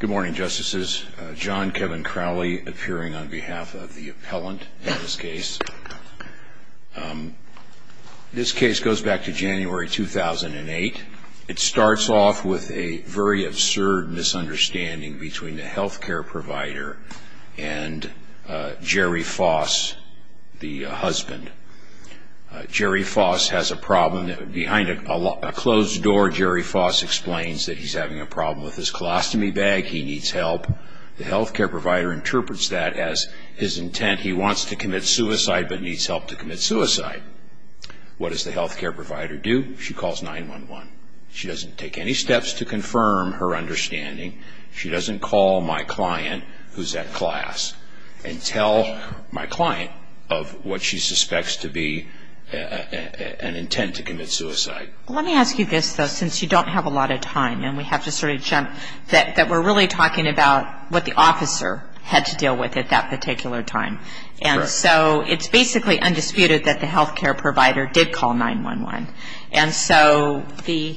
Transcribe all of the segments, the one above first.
Good morning, Justices. John Kevin Crowley appearing on behalf of the appellant in this case. This case goes back to January 2008. It starts off with a very absurd misunderstanding between the health care provider and Jerry Foss, the husband. Jerry Foss has a problem. Behind a closed door, Jerry Foss explains that he's having a problem with his colostomy bag. He needs help. The health care provider interprets that as his intent. He wants to commit suicide but needs help to commit suicide. What does the health care provider do? She calls 911. She doesn't take any steps to confirm her understanding. She doesn't call my client, who's at class, and tell my client of what she suspects to be an intent to commit suicide. Let me ask you this, though, since you don't have a lot of time and we have to sort of jump, that we're really talking about what the officer had to deal with at that particular time. And so it's basically undisputed that the health care provider did call 911. And so the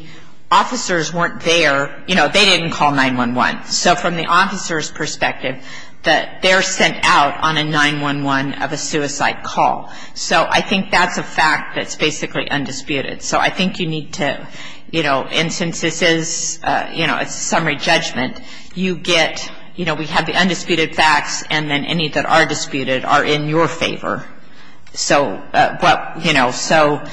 officers weren't there. You know, they didn't call 911. So from the officer's perspective, they're sent out on a 911 of a suicide call. So I think that's a fact that's basically undisputed. So I think you need to, you know, and since this is, you know, a summary judgment, you get, you know, we have the undisputed facts and then any that are disputed are in your favor. So what, you know, so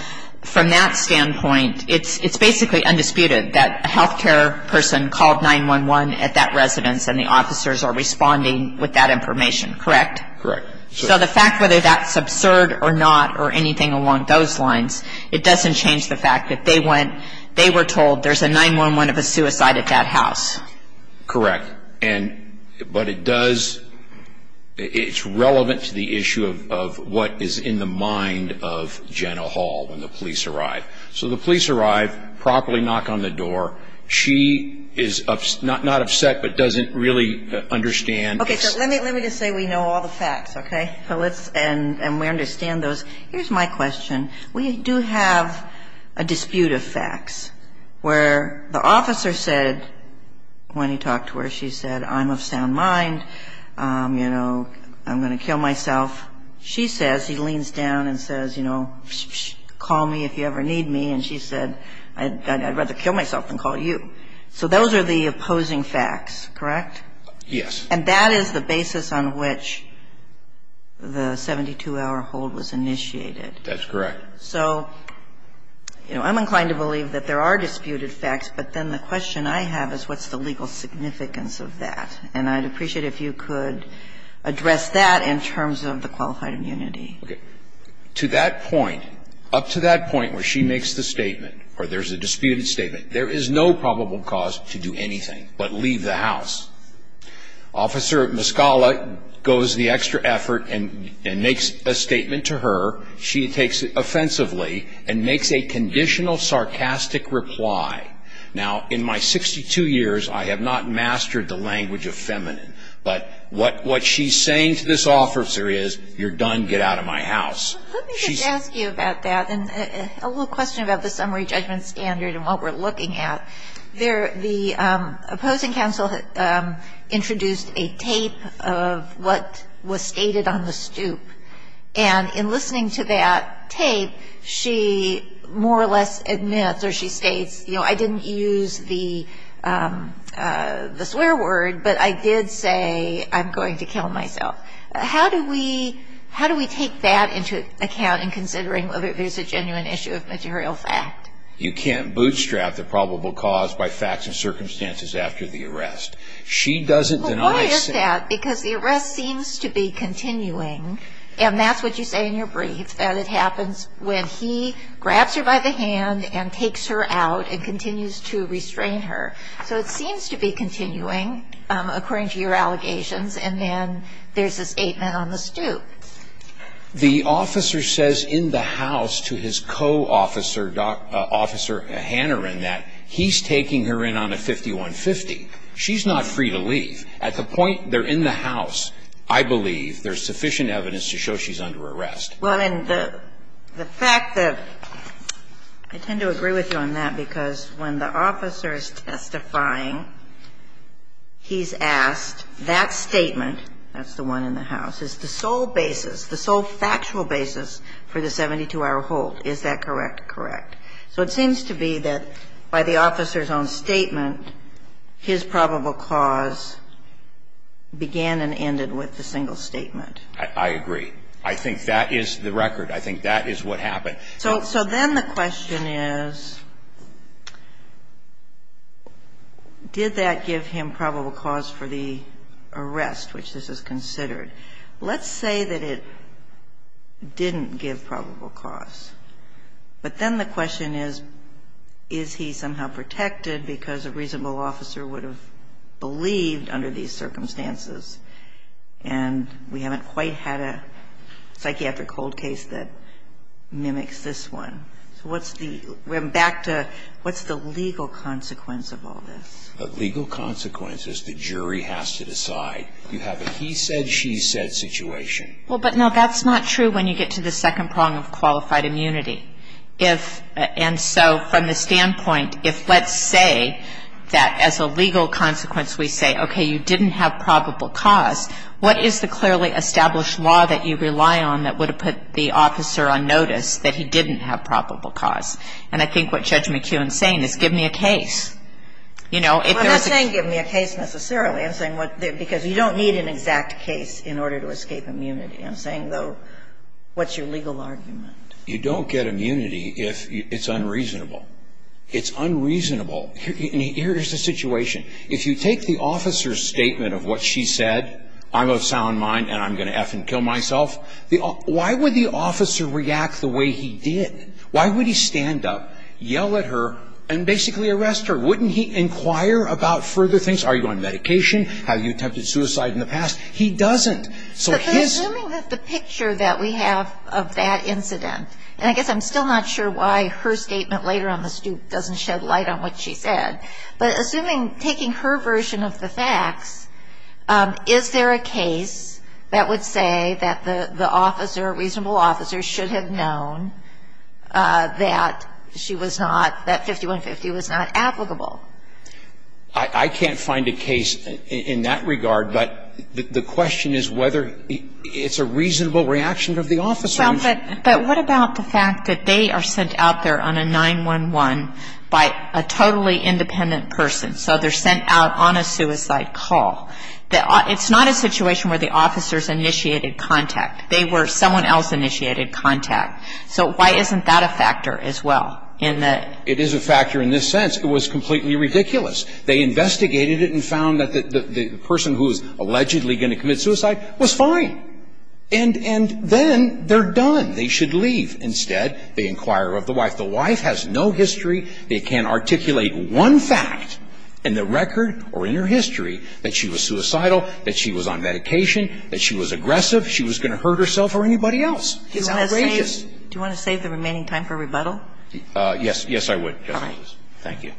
from that standpoint, it's basically undisputed that a health care person called 911 at that residence and the officers are responding with that information, correct? Correct. So the fact whether that's absurd or not or anything along those lines, it doesn't change the fact that they went, they were told there's a 911 of a suicide at that house. Correct. And, but it does, it's relevant to the issue of what is in the mind of Jenna Hall when the police arrive. So the police arrive, properly knock on the door. She is not upset but doesn't really understand. Okay, so let me just say we know all the facts, okay? So let's, and we understand those. Here's my question. We do have a dispute of facts where the officer said, when he talked to her, she said, I'm of sound mind, you know, I'm going to kill myself. She says, he leans down and says, you know, call me if you ever need me. And she said, I'd rather kill myself than call you. So those are the opposing facts, correct? Yes. And that is the basis on which the 72-hour hold was initiated. That's correct. So, you know, I'm inclined to believe that there are disputed facts, but then the question I have is what's the legal significance of that? And I'd appreciate if you could address that in terms of the qualified immunity. Okay. To that point, up to that point where she makes the statement or there's a disputed statement, there is no probable cause to do anything but leave the house. Officer Mescala goes the extra effort and makes a statement to her. She takes it offensively and makes a conditional sarcastic reply. Now, in my 62 years, I have not mastered the language of feminine. But what she's saying to this officer is, you're done, get out of my house. Let me just ask you about that and a little question about the summary judgment standard and what we're looking at. The opposing counsel introduced a tape of what was stated on the stoop. And in listening to that tape, she more or less admits or she states, you know, I didn't use the swear word, but I did say I'm going to kill myself. How do we take that into account in considering whether there's a genuine issue of material fact? You can't bootstrap the probable cause by facts and circumstances after the arrest. She doesn't deny saying that. Well, why is that? Because the arrest seems to be continuing, and that's what you say in your brief, that it happens when he grabs her by the hand and takes her out and continues to restrain her. So it seems to be continuing, according to your allegations, and then there's this eight-man-on-the-stoop. The officer says in the house to his co-officer, Officer Hanneran, that he's taking her in on a 51-50. She's not free to leave. At the point they're in the house, I believe, there's sufficient evidence to show she's under arrest. Well, and the fact that – I tend to agree with you on that, because when the officer is testifying, he's asked that statement, that's the one in the house, is the sole basis, the sole factual basis for the 72-hour hold. Is that correct? Correct. So it seems to be that by the officer's own statement, his probable cause began and ended with the single statement. I agree. I think that is the record. I think that is what happened. So then the question is, did that give him probable cause for the arrest, which this is considered? Let's say that it didn't give probable cause. But then the question is, is he somehow protected because a reasonable officer would have believed under these circumstances? And we haven't quite had a psychiatric hold case that mimics this one. So what's the – we're back to what's the legal consequence of all this? The legal consequence is the jury has to decide. You have a he said, she said situation. Well, but no, that's not true when you get to the second prong of qualified immunity. If – and so from the standpoint, if let's say that as a legal consequence we say, okay, you didn't have probable cause, what is the clearly established law that you rely on that would have put the officer on notice that he didn't have probable cause? And I think what Judge McKeown is saying is give me a case. You know, if there's a – Well, I'm not saying give me a case necessarily. I'm saying what – because you don't need an exact case in order to escape immunity. I'm saying, though, what's your legal argument? You don't get immunity if it's unreasonable. It's unreasonable. Here's the situation. If you take the officer's statement of what she said, I'm of sound mind and I'm going to F and kill myself, why would the officer react the way he did? Why would he stand up, yell at her, and basically arrest her? Wouldn't he inquire about further things? Are you on medication? Have you attempted suicide in the past? He doesn't. So his – But assuming that the picture that we have of that incident, and I guess I'm still not sure why her statement later on the stoop doesn't shed light on what she said, but assuming – taking her version of the facts, is there a case that would say that the officer, reasonable officer, should have known that she was not – that 5150 was not applicable? I can't find a case in that regard. But the question is whether it's a reasonable reaction of the officer. But what about the fact that they are sent out there on a 911 by a totally independent person, so they're sent out on a suicide call? It's not a situation where the officer's initiated contact. They were – someone else initiated contact. So why isn't that a factor as well in the – It is a factor in this sense. It was completely ridiculous. They investigated it and found that the person who was allegedly going to commit suicide was fine. And then they're done. They should leave. Instead, they inquire of the wife. The wife has no history. They can't articulate one fact in the record or in her history that she was suicidal, that she was on medication, that she was aggressive, she was going to hurt herself or anybody else. It's outrageous. Do you want to save the remaining time for rebuttal? Yes. Yes, I would, Justice Alito. All right. Thank you.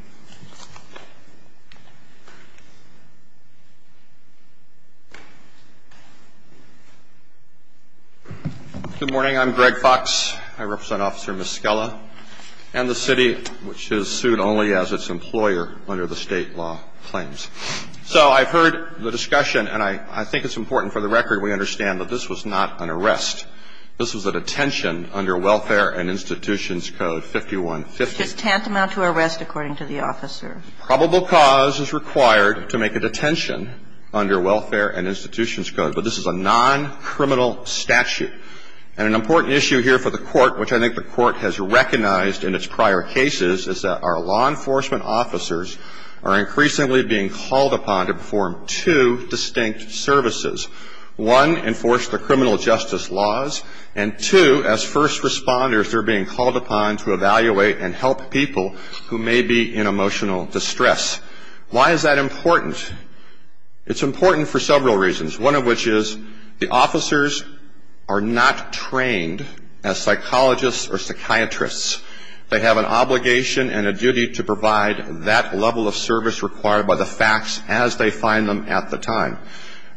Good morning. I'm Greg Fox. I represent Officer Miskella and the city, which is sued only as its employer under the State law claims. So I've heard the discussion, and I think it's important for the record we understand that this was not an arrest. This was a detention under Welfare and Institutions Code 5150. It's just tantamount to arrest according to the article. Probable cause is required to make a detention under Welfare and Institutions Code. But this is a non-criminal statute. And an important issue here for the court, which I think the court has recognized in its prior cases, is that our law enforcement officers are increasingly being called upon to perform two distinct services. One, enforce the criminal justice laws. And two, as first responders, they're being called upon to evaluate and help people who may be in emotional distress. Why is that important? It's important for several reasons, one of which is the officers are not trained as psychologists or psychiatrists. They have an obligation and a duty to provide that level of service required by the facts as they find them at the time.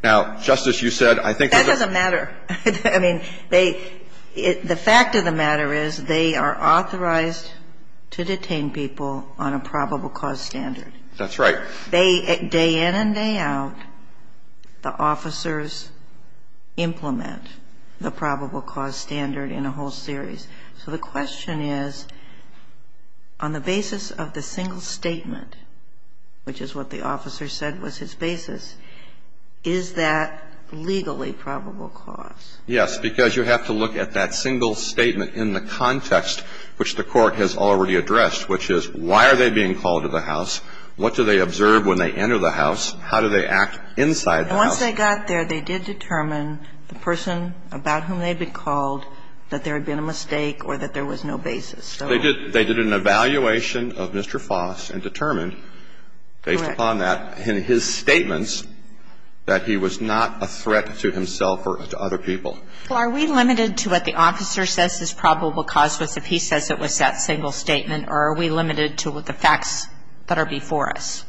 Now, Justice, you said I think that's a matter. I mean, the fact of the matter is they are authorized to detain people on a probable cause standard. That's right. Day in and day out, the officers implement the probable cause standard in a whole series. So the question is, on the basis of the single statement, which is what the officer said was his basis, is that legally probable cause? Yes, because you have to look at that single statement in the context which the Court has already addressed, which is why are they being called to the house? What do they observe when they enter the house? How do they act inside the house? Once they got there, they did determine the person about whom they had been called, that there had been a mistake or that there was no basis. Correct. And so the question is, is there a limit to the number of statements that he was not a threat to himself or to other people? Well, are we limited to what the officer says is probable cause if he says it was that single statement, or are we limited to what the facts that are before us?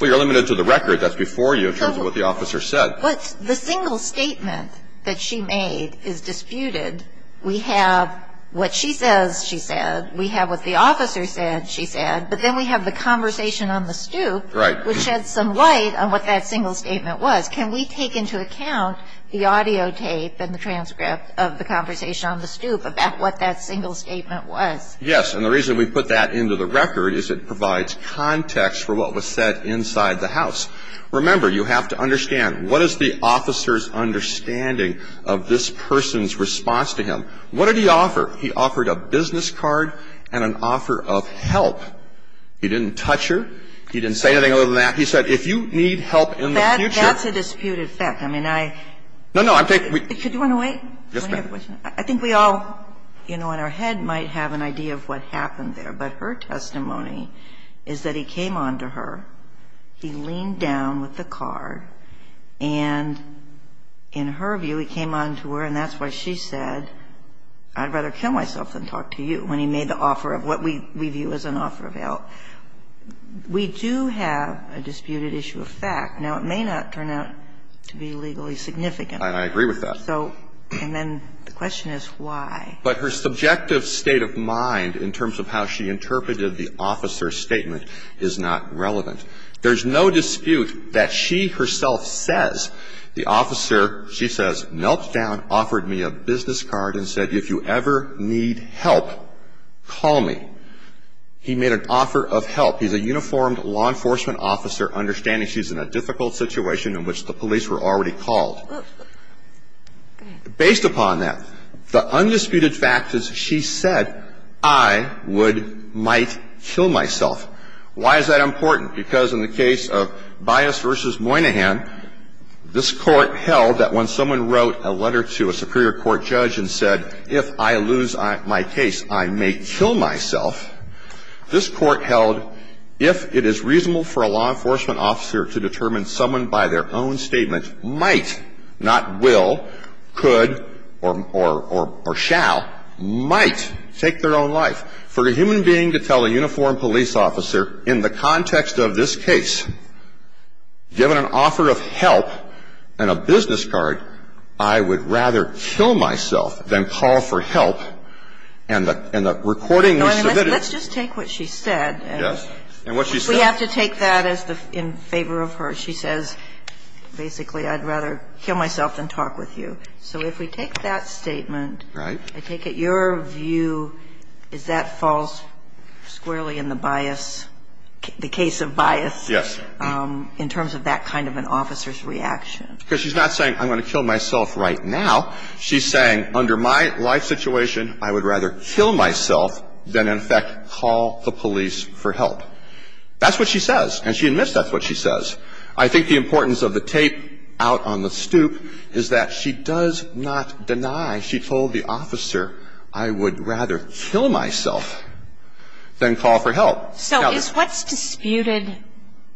Well, you're limited to the record that's before you in terms of what the officer said. Well, the single statement that she made is disputed. We have what she says she said, we have what the officer said she said, but then we have the conversation on the stoop which sheds some light on what that single statement was. Can we take into account the audio tape and the transcript of the conversation on the stoop about what that single statement was? Yes, and the reason we put that into the record is it provides context for what was said inside the house. Remember, you have to understand, what is the officer's understanding of this person's response to him? What did he offer? He offered a business card and an offer of help. He didn't touch her. He didn't say anything other than that. He said, if you need help in the future. That's a disputed fact. I mean, I. No, no, I'm taking. Do you want to wait? Yes, ma'am. I think we all, you know, in our head might have an idea of what happened there, but her testimony is that he came on to her, he leaned down with the card, and in her view, he came on to her, and that's why she said, I'd rather kill myself than talk to you, when he made the offer of what we view as an offer of help. We do have a disputed issue of fact. Now, it may not turn out to be legally significant. I agree with that. So, and then the question is why. But her subjective state of mind in terms of how she interpreted the officer's statement is not relevant. There's no dispute that she herself says, the officer, she says, knelt down, offered me a business card, and said, if you ever need help, call me. He made an offer of help. He's a uniformed law enforcement officer, understanding she's in a difficult situation in which the police were already called. Based upon that, the undisputed fact is she said, I would, might kill myself. Why is that important? Because in the case of Bias v. Moynihan, this Court held that when someone wrote a letter to a superior court judge and said, if I lose my case, I may kill myself, this Court held, if it is reasonable for a law enforcement officer to determine that a person summoned by their own statement might, not will, could or shall, might take their own life. For a human being to tell a uniformed police officer, in the context of this case, given an offer of help and a business card, I would rather kill myself than call for help, and the recording we submitted. Let's just take what she said. Yes. And what she said. We have to take that as in favor of her. She says, basically, I'd rather kill myself than talk with you. So if we take that statement. Right. I take it your view is that falls squarely in the bias, the case of Bias. Yes. In terms of that kind of an officer's reaction. Because she's not saying, I'm going to kill myself right now. She's saying, under my life situation, I would rather kill myself than, in effect, call the police for help. That's what she says. And she admits that's what she says. I think the importance of the tape out on the stoop is that she does not deny, she told the officer, I would rather kill myself than call for help. So is what's disputed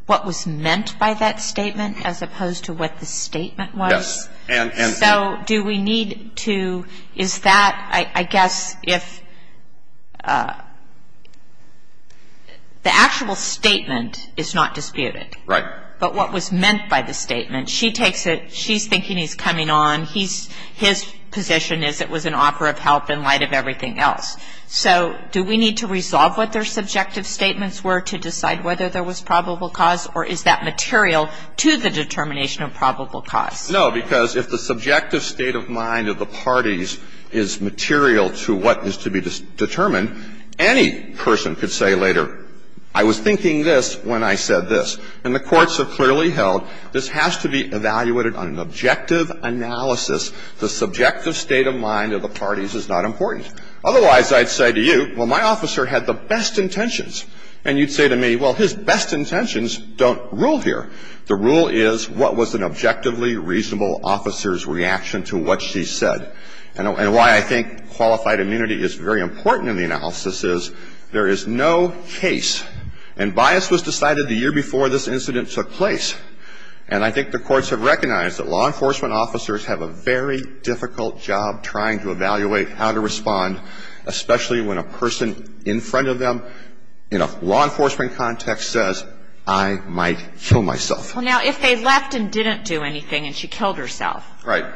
what was meant by that statement as opposed to what the statement was? Yes. So do we need to, is that, I guess, if the actual statement is not disputed. Right. But what was meant by the statement, she takes it, she's thinking he's coming on. His position is it was an offer of help in light of everything else. So do we need to resolve what their subjective statements were to decide whether there was probable cause? Or is that material to the determination of probable cause? No, because if the subjective state of mind of the parties is material to what is to be determined, any person could say later, I was thinking this when I said this. And the courts have clearly held this has to be evaluated on an objective analysis. The subjective state of mind of the parties is not important. Otherwise, I'd say to you, well, my officer had the best intentions. And you'd say to me, well, his best intentions don't rule here. The rule is what was an objectively reasonable officer's reaction to what she said. And why I think qualified immunity is very important in the analysis is there is no case, and bias was decided the year before this incident took place. And I think the courts have recognized that law enforcement officers have a very difficult job trying to evaluate how to respond, especially when a person in front of them, in a law enforcement context, says, I might kill myself. Well, now, if they left and didn't do anything and she killed herself. Right.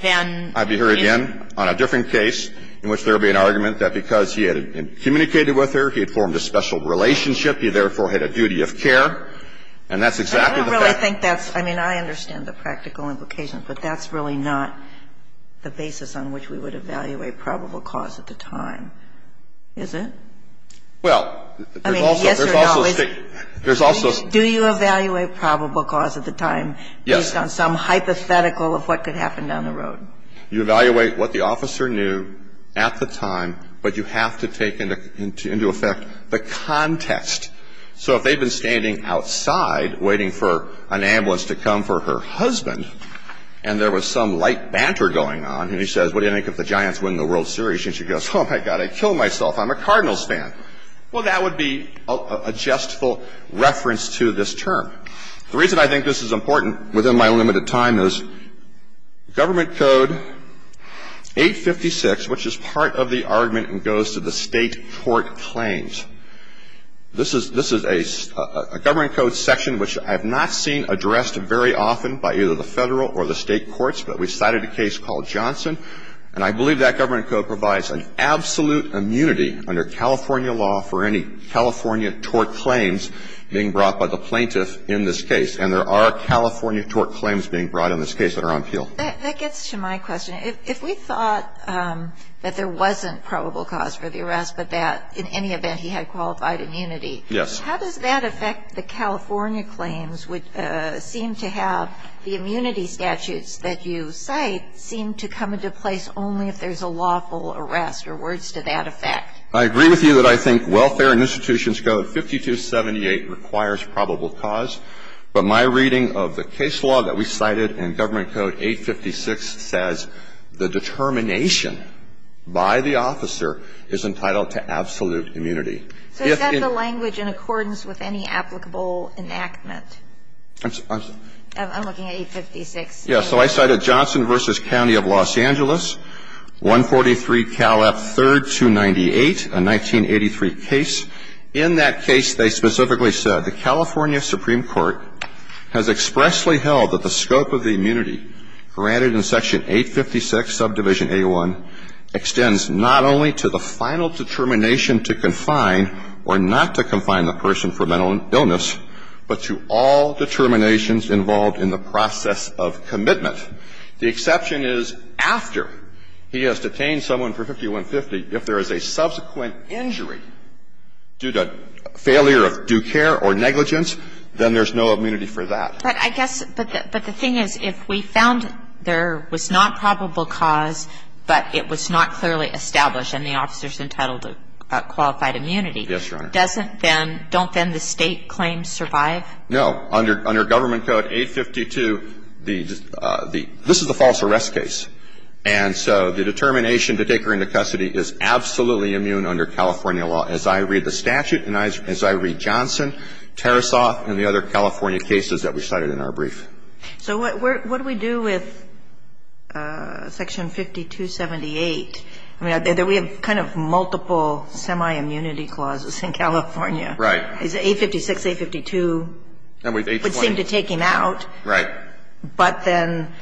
Then. I'd be here again on a different case in which there would be an argument that because he had communicated with her, he had formed a special relationship, he therefore had a duty of care. And that's exactly the fact. I don't really think that's – I mean, I understand the practical implications, but that's really not the basis on which we would evaluate probable cause at the time, is it? Well, there's also. I mean, yes or no. There's also. Do you evaluate probable cause at the time. Yes. Based on some hypothetical of what could happen down the road? You evaluate what the officer knew at the time, but you have to take into effect the context. So if they've been standing outside waiting for an ambulance to come for her husband and there was some light banter going on and he says, what do you think if the Giants win the World Series? And she goes, oh, my God, I'd kill myself. I'm a Cardinals fan. Well, that would be a justful reference to this term. The reason I think this is important within my limited time is Government Code 856, which is part of the argument and goes to the State court claims. This is a Government Code section which I have not seen addressed very often by either the Federal or the State courts, but we cited a case called Johnson, and I believe that Government Code provides an absolute immunity under California law for any California tort claims being brought by the plaintiff in this case. And there are California tort claims being brought in this case that are on appeal. That gets to my question. If we thought that there wasn't probable cause for the arrest, but that in any event he had qualified immunity. Yes. How does that affect the California claims, which seem to have the immunity statutes that you cite seem to come into place only if there's a lawful arrest or words to that effect? I agree with you that I think Welfare and Institutions Code 5278 requires probable cause, but my reading of the case law that we cited in Government Code 856 says the determination by the officer is entitled to absolute immunity. So is that the language in accordance with any applicable enactment? I'm looking at 856. Yes. So I cited Johnson v. County of Los Angeles, 143 Cal. F. 3rd, 298, a 1983 case. In that case, they specifically said, the California Supreme Court has expressly held that the scope of the immunity granted in Section 856, subdivision A1, extends not only to the final determination to confine or not to confine the person for mental illness, but to all determinations involved in the process of commitment. The exception is after he has detained someone for 5150. If there is a subsequent injury due to failure of due care or negligence, then there's no immunity for that. But I guess the thing is, if we found there was not probable cause, but it was not clearly established, and the officer's entitled to qualified immunity, doesn't that then don't then the State claim survive? No. Under Government Code 852, the – this is a false arrest case. And so the determination to take her into custody is absolutely immune under California law, as I read the statute and as I read Johnson, Tarasoff, and the other California cases that we cited in our brief. So what do we do with Section 5278? I mean, we have kind of multiple semi-immunity clauses in California. Right. Is it 856, 852? And we have 820. It would seem to take him out. Right. But then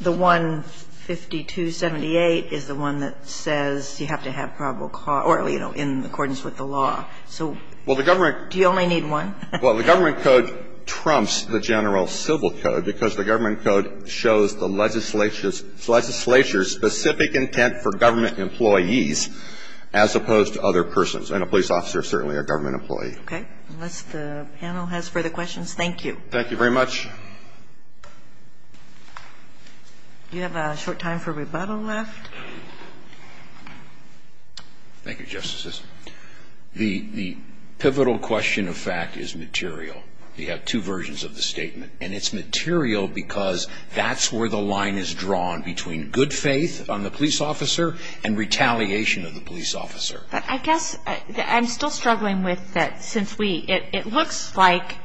the 15278 is the one that says you have to have probable cause or, you know, in accordance with the law. So do you only need one? Well, the Government Code trumps the general civil code because the Government employees as opposed to other persons. And a police officer is certainly a Government employee. Okay. Unless the panel has further questions, thank you. Thank you very much. Do you have a short time for rebuttal left? Thank you, Justices. The pivotal question of fact is material. You have two versions of the statement. And it's material because that's where the line is drawn between good faith on the police officer and retaliation of the police officer. But I guess I'm still struggling with that since we ‑‑ it looks like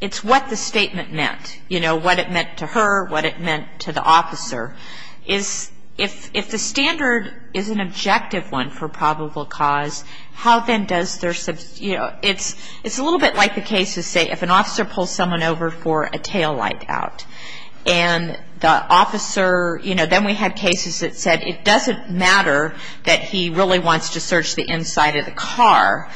it's what the statement meant. You know, what it meant to her, what it meant to the officer. If the standard is an objective one for probable cause, how then does their ‑‑ it's a little bit like the case to say if an officer pulls someone over for a taillight out and the officer, you know, then we had cases that said it doesn't matter that he really wants to search the inside of the car,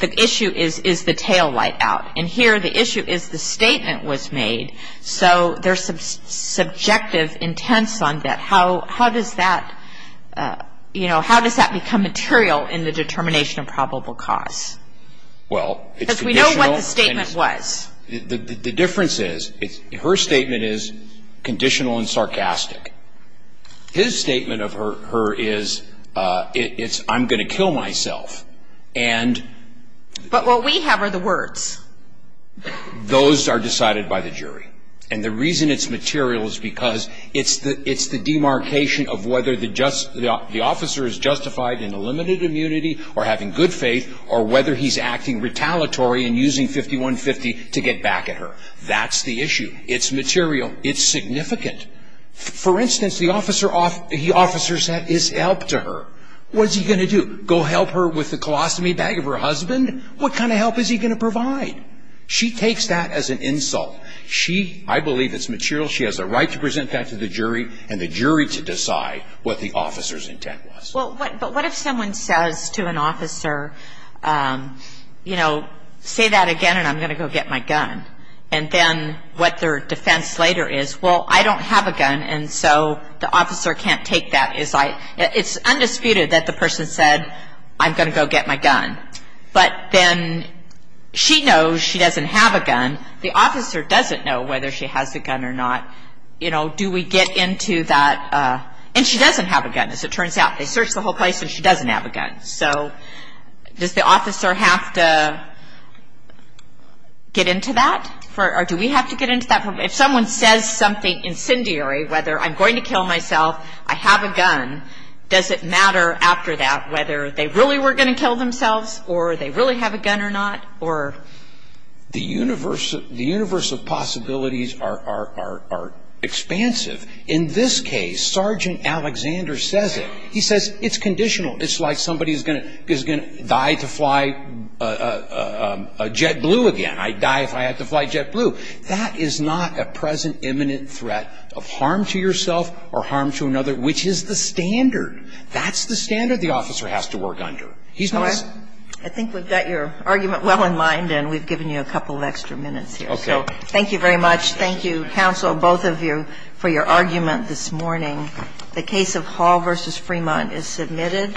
the issue is the taillight out. And here the issue is the statement was made. So there's some subjective intents on that. How does that, you know, how does that become material in the determination of probable cause? Well, it's conditional. Because we know what the statement was. The difference is her statement is conditional and sarcastic. His statement of her is it's I'm going to kill myself. But what we have are the words. Those are decided by the jury. And the reason it's material is because it's the demarcation of whether the officer is justified in a limited immunity or having good faith or whether he's acting retaliatory and using 5150 to get back at her. That's the issue. It's material. It's significant. For instance, the officer said his help to her. What is he going to do? Go help her with the colostomy bag of her husband? What kind of help is he going to provide? She takes that as an insult. She, I believe it's material. She has a right to present that to the jury and the jury to decide what the officer's intent was. But what if someone says to an officer, you know, say that again and I'm going to go get my gun? And then what their defense later is, well, I don't have a gun and so the officer can't take that. It's undisputed that the person said I'm going to go get my gun. But then she knows she doesn't have a gun. The officer doesn't know whether she has a gun or not. You know, do we get into that? And she doesn't have a gun, as it turns out. They searched the whole place and she doesn't have a gun. So does the officer have to get into that? Or do we have to get into that? If someone says something incendiary, whether I'm going to kill myself, I have a gun, does it matter after that whether they really were going to kill themselves or they really have a gun or not? Or? The universe of possibilities are expansive. In this case, Sergeant Alexander says it. He says it's conditional. It's like somebody is going to die to fly a JetBlue again. I'd die if I had to fly JetBlue. That is not a present imminent threat of harm to yourself or harm to another, which is the standard. That's the standard the officer has to work under. I think we've got your argument well in mind and we've given you a couple of extra minutes here. So thank you very much. Thank you, counsel, both of you, for your argument this morning. The case of Hall v. Fremont is submitted.